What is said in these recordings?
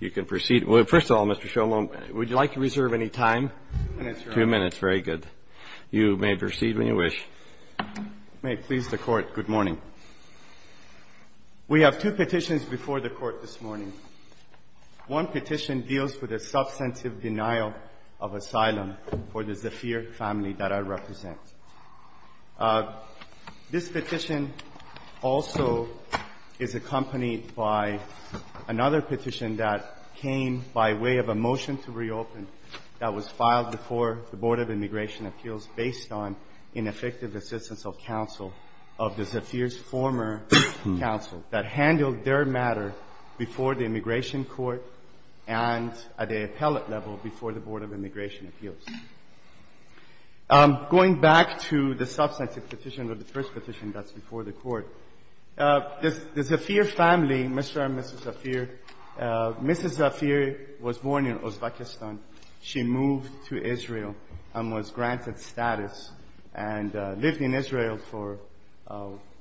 You can proceed. Well, first of all, Mr. Sholom, would you like to reserve any time? Two minutes, Your Honor. Two minutes, very good. You may proceed when you wish. May it please the court, good morning. We have two petitions before the court this morning. One petition deals with the substantive denial of asylum for the Tzafir family that I represent. This petition also is accompanied by another petition that came by way of a motion to reopen that was filed before the Board of Immigration Appeals based on ineffective assistance of counsel of the Tzafir's former counsel that handled their matter before the immigration court and at the appellate level before the Board of Immigration Appeals. Going back to the substantive petition of the first petition that's before the court, the Tzafir family, Mr. and Mrs. Tzafir, Mrs. Tzafir was born in Uzbekistan. She moved to Israel and was granted status and lived in Israel for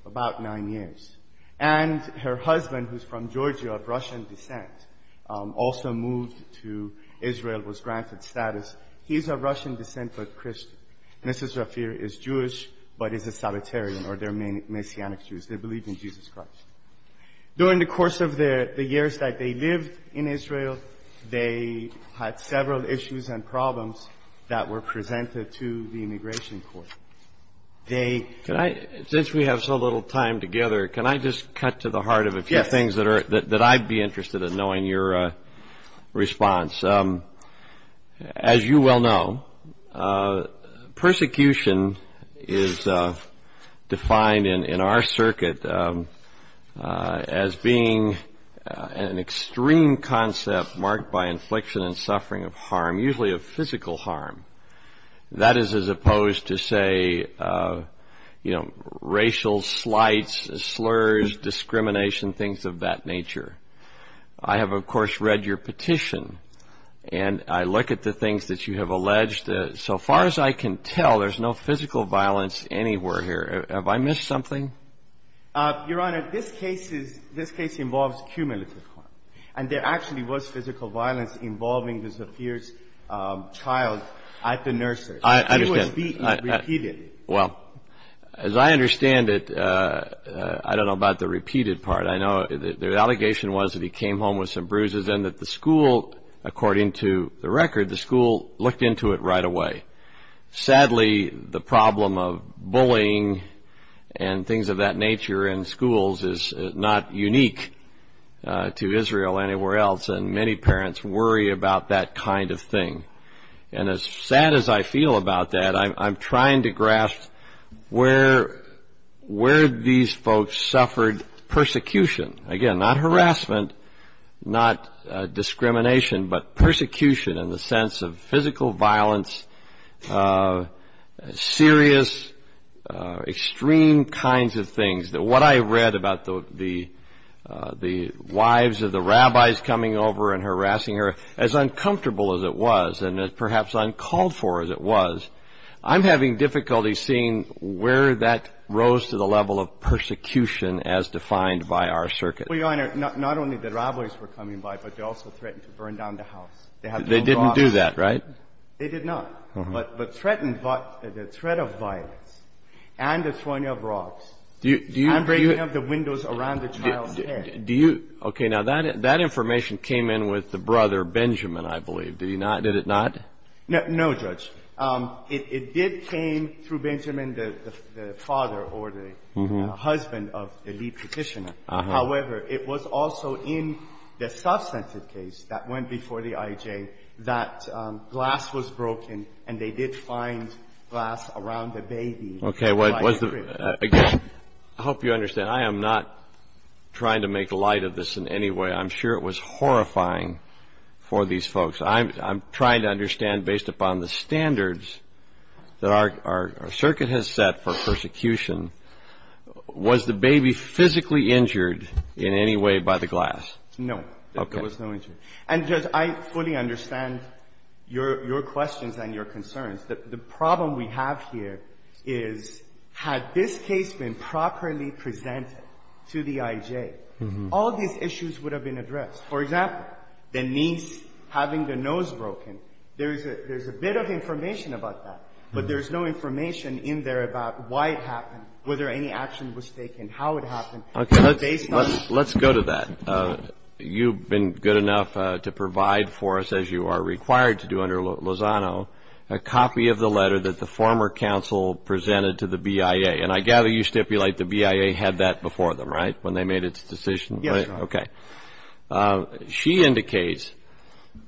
about nine years. And her husband, who's from Georgia of Russian descent, also moved to Israel, was granted status. He's of Russian descent, but Christian. Mrs. Tzafir is Jewish, but is a Sabbatarian, or they're Messianic Jews. They believe in Jesus Christ. During the course of the years that they lived in Israel, they had several issues and problems that were presented to the immigration court. Since we have so little time together, can I just cut to the heart of a few things that I'd be interested in knowing your response? As you well know, persecution is defined in our circuit as being an extreme concept marked by infliction and suffering of harm, usually of physical harm. That is as opposed to, say, racial slights, slurs, discrimination, things of that nature. I have, of course, read your petition. And I look at the things that you have alleged. So far as I can tell, there's no physical violence anywhere here. Have I missed something? Your Honor, this case involves cumulative harm. And there actually was physical violence involving Mrs. Tzafir's child at the nursery. I understand. It was repeated. Well, as I understand it, I don't know about the repeated part. The allegation was that he came home with some bruises and that the school, according to the record, the school looked into it right away. Sadly, the problem of bullying and things of that nature in schools is not unique to Israel anywhere else. And many parents worry about that kind of thing. And as sad as I feel about that, I'm Again, not harassment, not discrimination, but persecution in the sense of physical violence, serious, extreme kinds of things. What I read about the wives of the rabbis coming over and harassing her, as uncomfortable as it was, and perhaps uncalled for as it was, I'm having difficulty seeing where that rose to the level of persecution as defined by our circuit. Well, Your Honor, not only the rabbis were coming by, but they also threatened to burn down the house. They didn't do that, right? They did not. But the threat of violence and the throwing of rocks and breaking up the windows around the child's head. OK, now that information came in with the brother, Benjamin, I believe. Did it not? No, Judge. It did came through Benjamin, the father or the husband of the lead petitioner. However, it was also in the substantive case that went before the IJ that glass was broken and they did find glass around the baby. OK, I hope you understand. I am not trying to make light of this in any way. I'm sure it was horrifying for these folks. I'm trying to understand, based upon the standards that our circuit has set for persecution, was the baby physically injured in any way by the glass? No, there was no injury. And, Judge, I fully understand your questions and your concerns. The problem we have here is, had this case been properly presented to the IJ, all these issues would have been addressed. For example, the niece having the nose broken, there's a bit of information about that. But there's no information in there about why it happened, whether any action was taken, how it happened. Let's go to that. You've been good enough to provide for us, as you are required to do under Lozano, a copy of the letter that the former counsel presented to the BIA. And I gather you stipulate the BIA had that before them, right, when they made its decision? Yes, Your Honor. OK. She indicates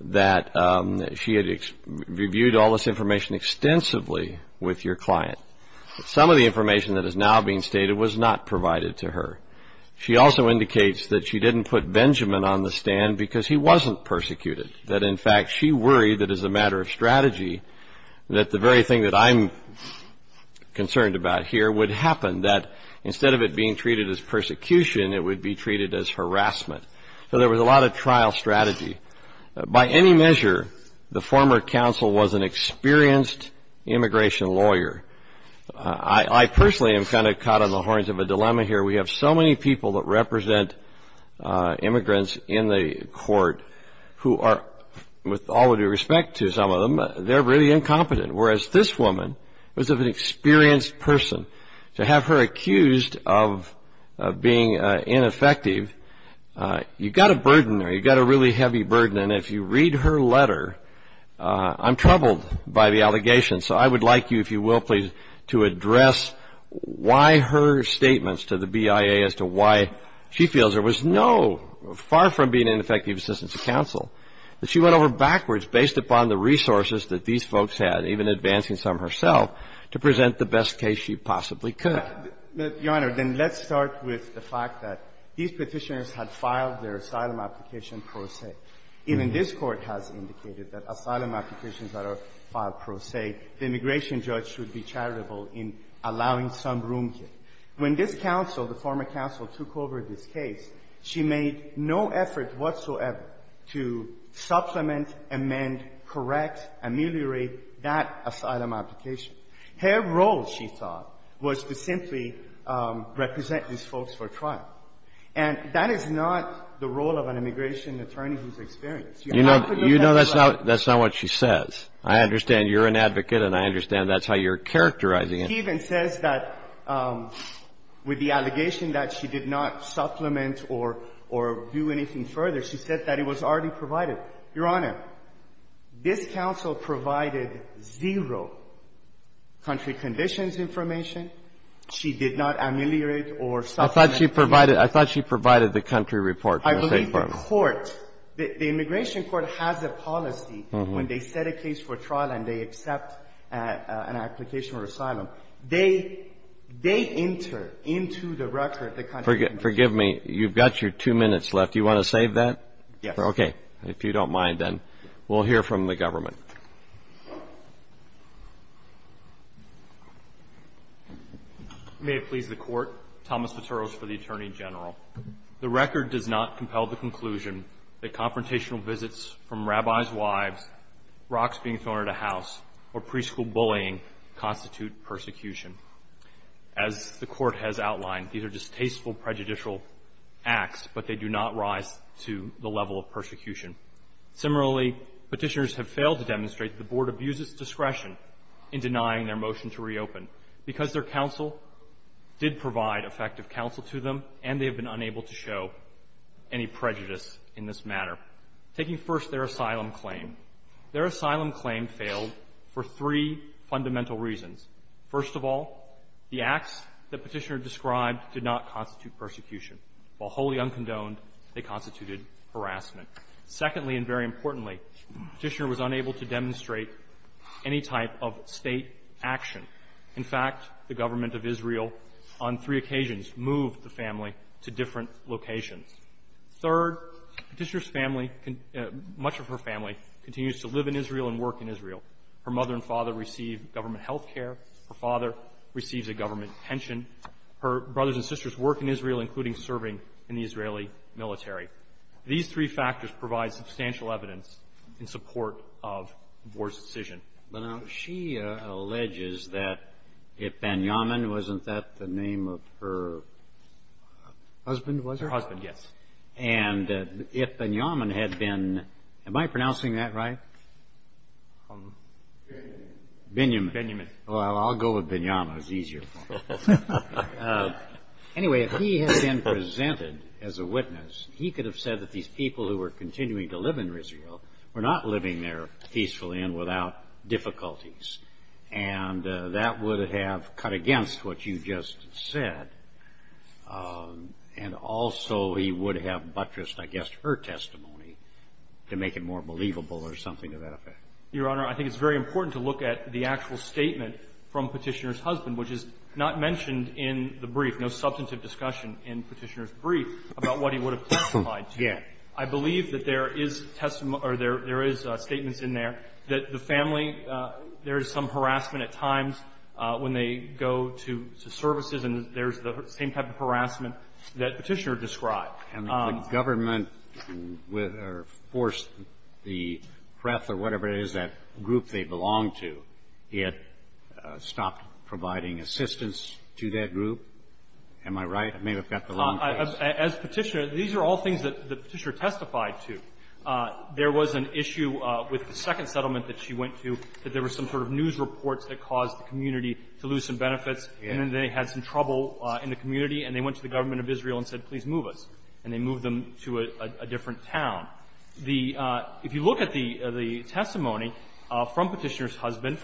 that she had reviewed all this information extensively with your client. Some of the information that is now being stated was not provided to her. She also indicates that she didn't put Benjamin on the stand because he wasn't persecuted. That, in fact, she worried that, as a matter of strategy, that the very thing that I'm concerned about here would happen, that instead of it being treated as persecution, it would be treated as harassment. So there was a lot of trial strategy. By any measure, the former counsel was an experienced immigration lawyer. I personally am kind of caught on the horns of a dilemma here. We have so many people that represent immigrants in the court who are, with all due respect to some of them, they're really incompetent. Whereas this woman was of an experienced person. To have her accused of being ineffective, you've got a burden there. You've got a really heavy burden. And if you read her letter, I'm troubled by the allegations. So I would like you, if you will, please, to address why her statements to the BIA as to why she feels there was no, far from being ineffective assistance to counsel, that she went over backwards based upon the resources that these folks had, even advancing some herself, to present the best case she possibly could. Your Honor, then let's start with the fact that these Petitioners had filed their asylum application pro se. Even this Court has indicated that asylum applications that are filed pro se, the immigration judge should be charitable in allowing some room here. When this counsel, the former counsel, took over this case, she made no effort whatsoever to supplement, amend, correct, ameliorate that asylum application. Her role, she thought, was to simply represent these folks for trial. And that is not the role of an immigration attorney who's experienced. You know, that's not what she says. I understand you're an advocate, and I understand that's how you're characterizing it. She even says that with the allegation that she did not supplement or do anything further, she said that it was already provided. Your Honor, this counsel provided zero country conditions information. She did not ameliorate or supplement. I thought she provided the country report. I believe the court, the immigration court, has a policy when they set a case for trial and they accept an application for asylum. They enter into the record the country report. Forgive me. You've got your two minutes left. Do you want to save that? Yes. Okay. If you don't mind, then, we'll hear from the government. May it please the court. Thomas Viteros for the Attorney General. The record does not compel the conclusion that confrontational visits from rabbi's wives, rocks being thrown at a house, or preschool bullying constitute persecution. As the court has outlined, these are distasteful prejudicial acts, but they do not rise to the level of persecution. Similarly, Petitioners have failed to demonstrate the board abuses discretion in denying their motion to reopen because their counsel did provide effective counsel to them and they have been unable to show any prejudice in this matter. Taking first their asylum claim, their asylum claim failed for three fundamental reasons. First of all, the acts that Petitioner described did not constitute persecution. While wholly uncondoned, they constituted harassment. Secondly, and very importantly, Petitioner was unable to demonstrate any type of state action. In fact, the government of Israel, on three occasions, moved the family to different locations. Third, Petitioner's family, much of her family, continues to live in Israel and work in Israel. Her mother and father receive government health care. Her father receives a government pension. Her brothers and sisters work in Israel, including serving in the Israeli military. These three factors provide substantial evidence in support of the board's decision. But now, she alleges that if Benyamin, wasn't that the name of her husband, was it? Her husband, yes. And if Benyamin had been, am I pronouncing that right? Benyamin. Benyamin. Well, I'll go with Benyamin, it's easier. Anyway, if he had been presented as a witness, he could have said that these people who were continuing to live in Israel were not living there peacefully and without difficulties. And that would have cut against what you just said. And also, he would have buttressed, I guess, her testimony to make it more believable or something to that effect. Your Honor, I think it's very important to look at the actual statement from Petitioner's husband, which is not mentioned in the brief, no substantive discussion in Petitioner's brief about what he would have testified to. I believe that there is statements in there that the family, there is some harassment at times when they go to services. And there's the same type of harassment that Petitioner described. And the government forced the PrEP, or whatever it is, that group they belong to, he had stopped providing assistance to that group. Am I right? I may have got the wrong place. As Petitioner, these are all things that Petitioner testified to. There was an issue with the second settlement that she went to that there were some sort of news reports that caused the community to lose some benefits. And then they had some trouble in the community. And they went to the government of Israel and said, please move us. And they moved them to a different town. The — if you look at the testimony from Petitioner's husband,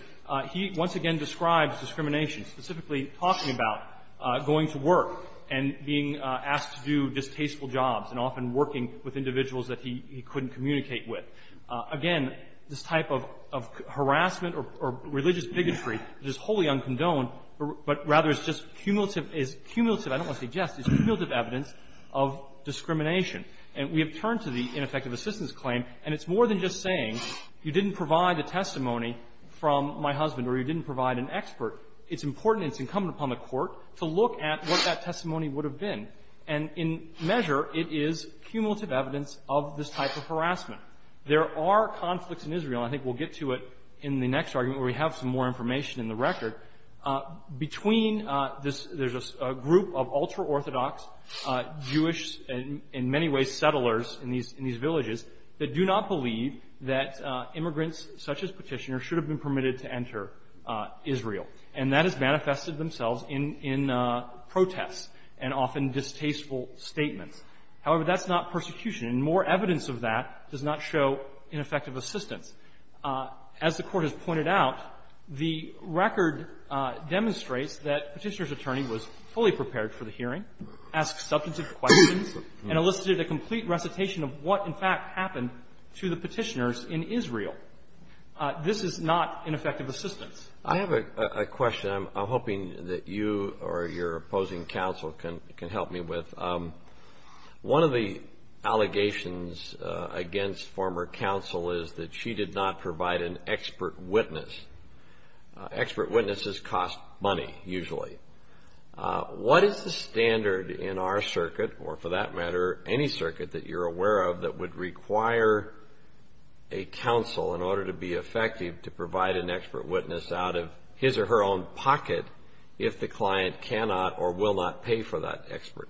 he once again describes discrimination, specifically talking about going to work and being asked to do distasteful jobs, and often working with individuals that he couldn't communicate with. Again, this type of harassment or religious bigotry is wholly uncondoned, but rather is just cumulative. It's cumulative. I don't want to say just. It's cumulative evidence of discrimination. And we have turned to the ineffective assistance claim. And it's more than just saying, you didn't provide a testimony from my husband or you didn't provide an expert. It's important and it's incumbent upon the court to look at what that testimony would have been. And in measure, it is cumulative evidence of this type of harassment. There are conflicts in Israel. I think we'll get to it in the next argument, where we have some more information in the record. Between this — there's a group of ultra-Orthodox Jewish and, in many ways, settlers in these villages that do not believe that immigrants such as Petitioner should have been permitted to enter Israel. And that has manifested themselves in protests and often distasteful statements. However, that's not persecution. And more evidence of that does not show ineffective assistance. As the Court has pointed out, the record demonstrates that Petitioner's attorney was fully and elicited a complete recitation of what, in fact, happened to the Petitioners in Israel. This is not ineffective assistance. I have a question I'm hoping that you or your opposing counsel can help me with. One of the allegations against former counsel is that she did not provide an expert witness. Expert witnesses cost money, usually. What is the standard in our circuit, or for that matter, any circuit that you're aware of, that would require a counsel, in order to be effective, to provide an expert witness out of his or her own pocket if the client cannot or will not pay for that expert?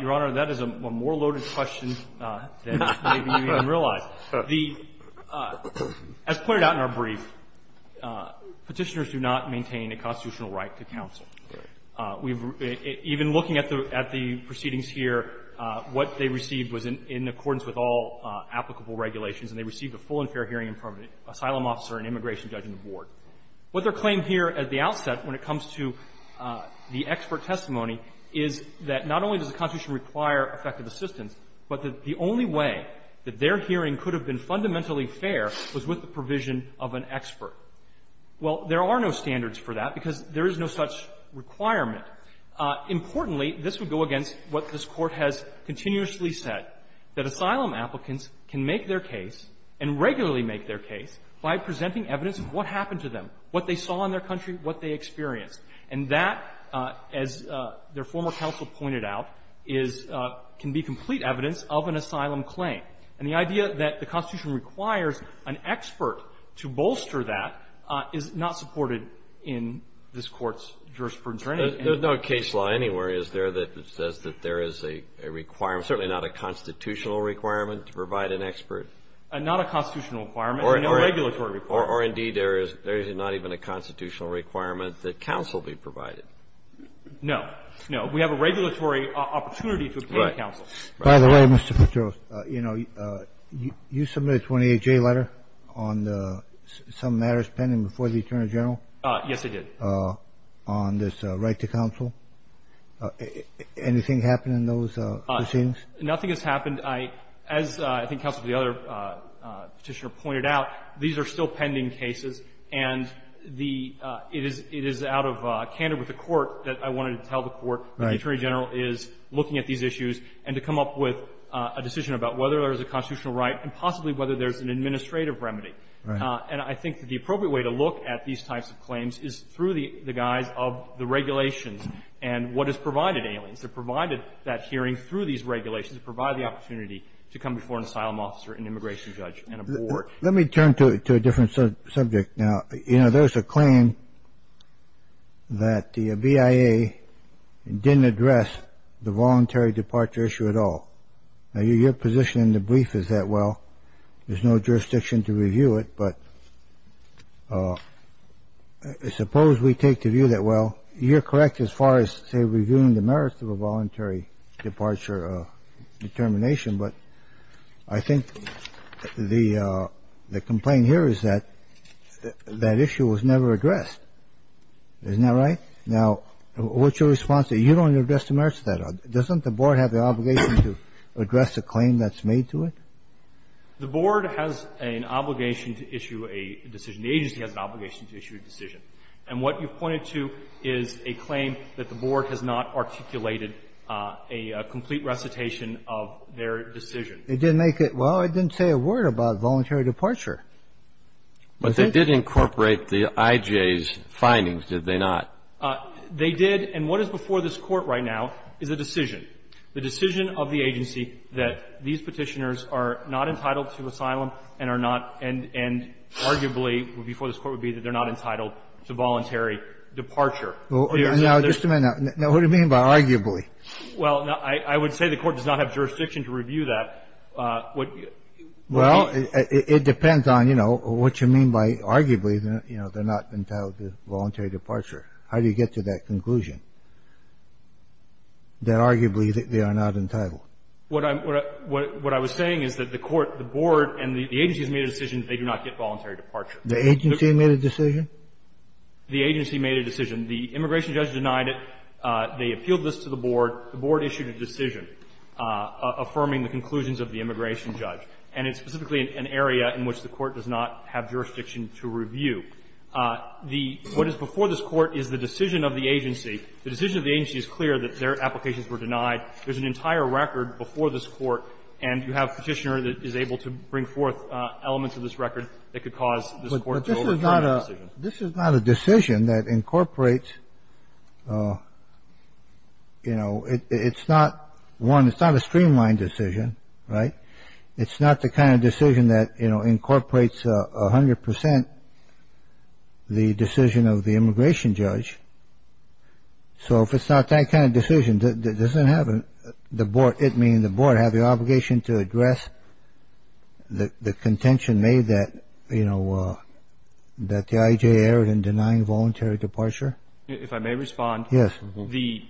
Your Honor, that is a more loaded question than maybe you even realize. As pointed out in our brief, Petitioners do not maintain a constitutional right to counsel. Even looking at the proceedings here, what they received was in accordance with all applicable regulations, and they received a full and fair hearing from an asylum officer and immigration judge on the board. What they're claiming here at the outset, when it comes to the expert testimony, is that not only does the Constitution require effective assistance, but that the only way that their hearing could have been fundamentally fair was with the provision of an expert. Well, there are no standards for that, because there is no such requirement. Importantly, this would go against what this Court has continuously said, that asylum applicants can make their case and regularly make their case by presenting evidence of what happened to them, what they saw in their country, what they experienced. And that, as their former counsel pointed out, is can be complete evidence of an asylum claim. And the idea that the Constitution requires an expert to bolster that is not supported in this Court's jurisprudence or anything. There's no case law anywhere, is there, that says that there is a requirement, certainly not a constitutional requirement, to provide an expert? Not a constitutional requirement, and no regulatory requirement. Or, indeed, there is not even a constitutional requirement that counsel be provided. No. No. We have a regulatory opportunity to obtain counsel. By the way, Mr. Petros, you know, you submit a 28-J letter on some matters pending before the Attorney General? Yes, I did. On this right to counsel? Anything happen in those proceedings? Nothing has happened. As I think Counsel to the other Petitioner pointed out, these are still pending cases. And the – it is out of candor with the Court that I wanted to tell the Court that the Attorney General is looking at these issues and to come up with a decision about whether there's a constitutional right and possibly whether there's an administrative remedy. And I think the appropriate way to look at these types of claims is through the guise of the regulations and what has provided aliens. They've provided that hearing through these regulations, provided the opportunity to come before an asylum officer, an immigration judge, and a board. Let me turn to a different subject now. You know, there's a claim that the BIA didn't address the voluntary departure issue at all. Now, your position in the brief is that, well, there's no jurisdiction to review it. But suppose we take the view that, well, you're correct as far as, say, reviewing the merits of a voluntary departure determination. But I think the complaint here is that that issue was never addressed. Isn't that right? Now, what's your response to, you don't address the merits of that? Doesn't the board have the obligation to address the claim that's made to it? The board has an obligation to issue a decision. The agency has an obligation to issue a decision. And what you've pointed to is a claim that the board has not articulated a complete recitation of their decision. It didn't make it – well, it didn't say a word about voluntary departure. But they did incorporate the IJA's findings, did they not? They did. And what is before this Court right now is a decision, the decision of the agency that these Petitioners are not entitled to asylum and are not – and arguably before this Court would be that they're not entitled to voluntary departure. Now, what do you mean by arguably? Well, I would say the Court does not have jurisdiction to review that. Well, it depends on, you know, what you mean by arguably, you know, they're not entitled to voluntary departure. How do you get to that conclusion that arguably they are not entitled? What I'm – what I was saying is that the Court, the board, and the agency has made a decision that they do not get voluntary departure. The agency made a decision? The agency made a decision. The immigration judge denied it. They appealed this to the board. The board issued a decision affirming the conclusions of the immigration judge. And it's specifically an area in which the Court does not have jurisdiction to review. The – what is before this Court is the decision of the agency. The decision of the agency is clear that their applications were denied. There's an entire record before this Court, and you have Petitioner that is able to bring forth elements of this record that could cause this Court to overturn the decision. This is not a decision that incorporates, you know, it's not one – it's not a streamlined decision, right? It's not the kind of decision that, you know, incorporates 100 percent the decision of the immigration judge. So if it's not that kind of decision, does it have – the board – it, meaning the board, have the obligation to address the contention made that, you know, that the IJA erred in denying voluntary departure? If I may respond. Yes. The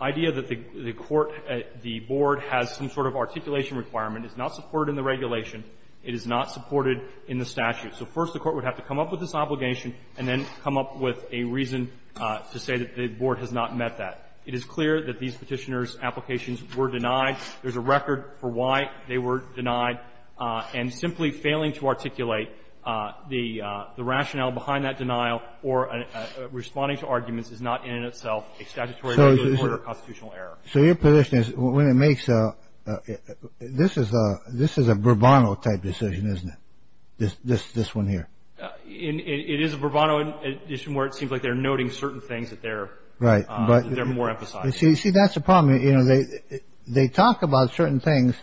idea that the court – the board has some sort of articulation requirement is not supported in the regulation. It is not supported in the statute. So first the Court would have to come up with this obligation and then come up with a reason to say that the board has not met that. It is clear that these Petitioner's applications were denied. There's a record for why they were denied. And simply failing to articulate the rationale behind that denial or responding to arguments is not in and of itself a statutory or constitutional error. So your position is when it makes a – this is a – this is a Bourbon type decision, isn't it, this one here? It is a Bourbon edition where it seems like they're noting certain things that they're more emphasizing. Right. But you see, that's the problem. You know, they talk about certain things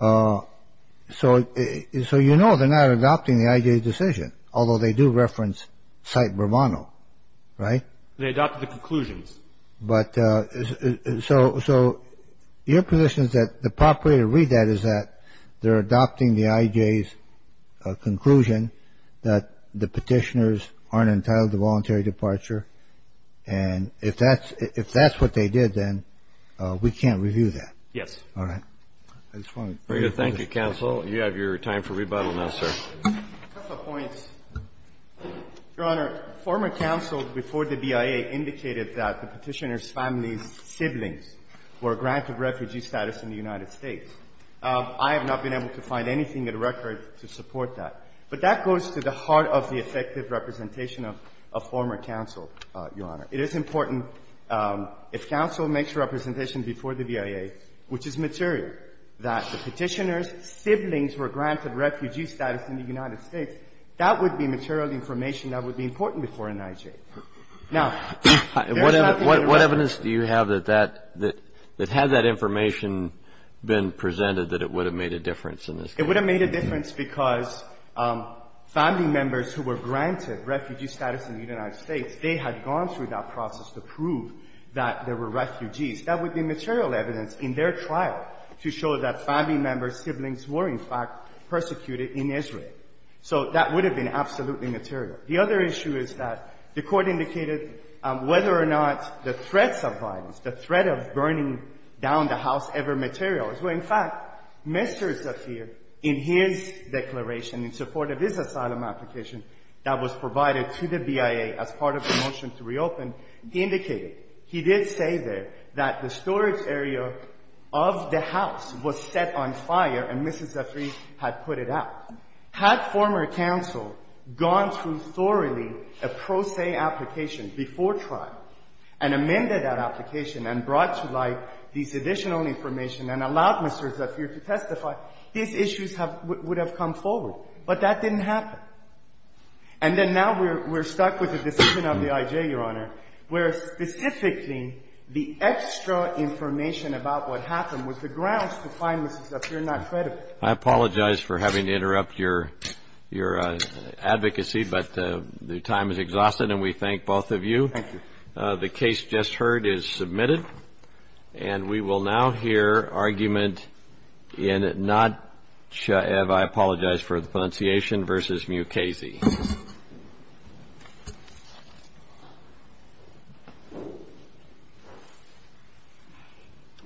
so you know they're not adopting the IJA decision, although they do reference – cite Bourbon, right? They adopt the conclusions. But so your position is that the proper way to read that is that they're adopting the IJA's conclusion that the Petitioner's aren't entitled to voluntary departure. And if that's what they did, then we can't review that. Yes. All right. I just want to bring it up. You have your time for rebuttal now, sir. A couple of points. Your Honor, former counsel before the BIA indicated that the Petitioner's family's siblings were granted refugee status in the United States. I have not been able to find anything in the record to support that. But that goes to the heart of the effective representation of former counsel, Your Honor. It is important if counsel makes a representation before the BIA, which is material, that the Petitioner's siblings were granted refugee status in the United States. That would be material information that would be important before an IJA. Now, there is nothing in the record – What evidence do you have that that – that had that information been presented, that it would have made a difference in this case? It would have made a difference because family members who were granted refugee status in the United States, they had gone through that process to prove that there were refugees. That would be material evidence in their trial to show that family members' siblings were, in fact, persecuted in Israel. So that would have been absolutely material. The other issue is that the Court indicated whether or not the threats of violence, the threat of burning down the house ever material. In fact, Mr. Zafir, in his declaration, in support of his asylum application that was provided to the BIA as part of the motion to reopen, indicated he did say there that the storage area of the house was set on fire, and Mrs. Zafir had put it out. Had former counsel gone through thoroughly a pro se application before trial and amended that application and brought to light these additional information and allowed Mr. Zafir to testify, his issues have – would have come forward. But that didn't happen. And then now we're – we're stuck with the decision of the IJA, Your Honor, where specifically the extra information about what happened was the grounds to find, Mr. Zafir, not credible. I apologize for having to interrupt your advocacy, but the time is exhausted and we thank both of you. Thank you. The case just heard is submitted. And we will now hear argument in Notchev – I apologize for the pronunciation – versus Mukasey. Thank you.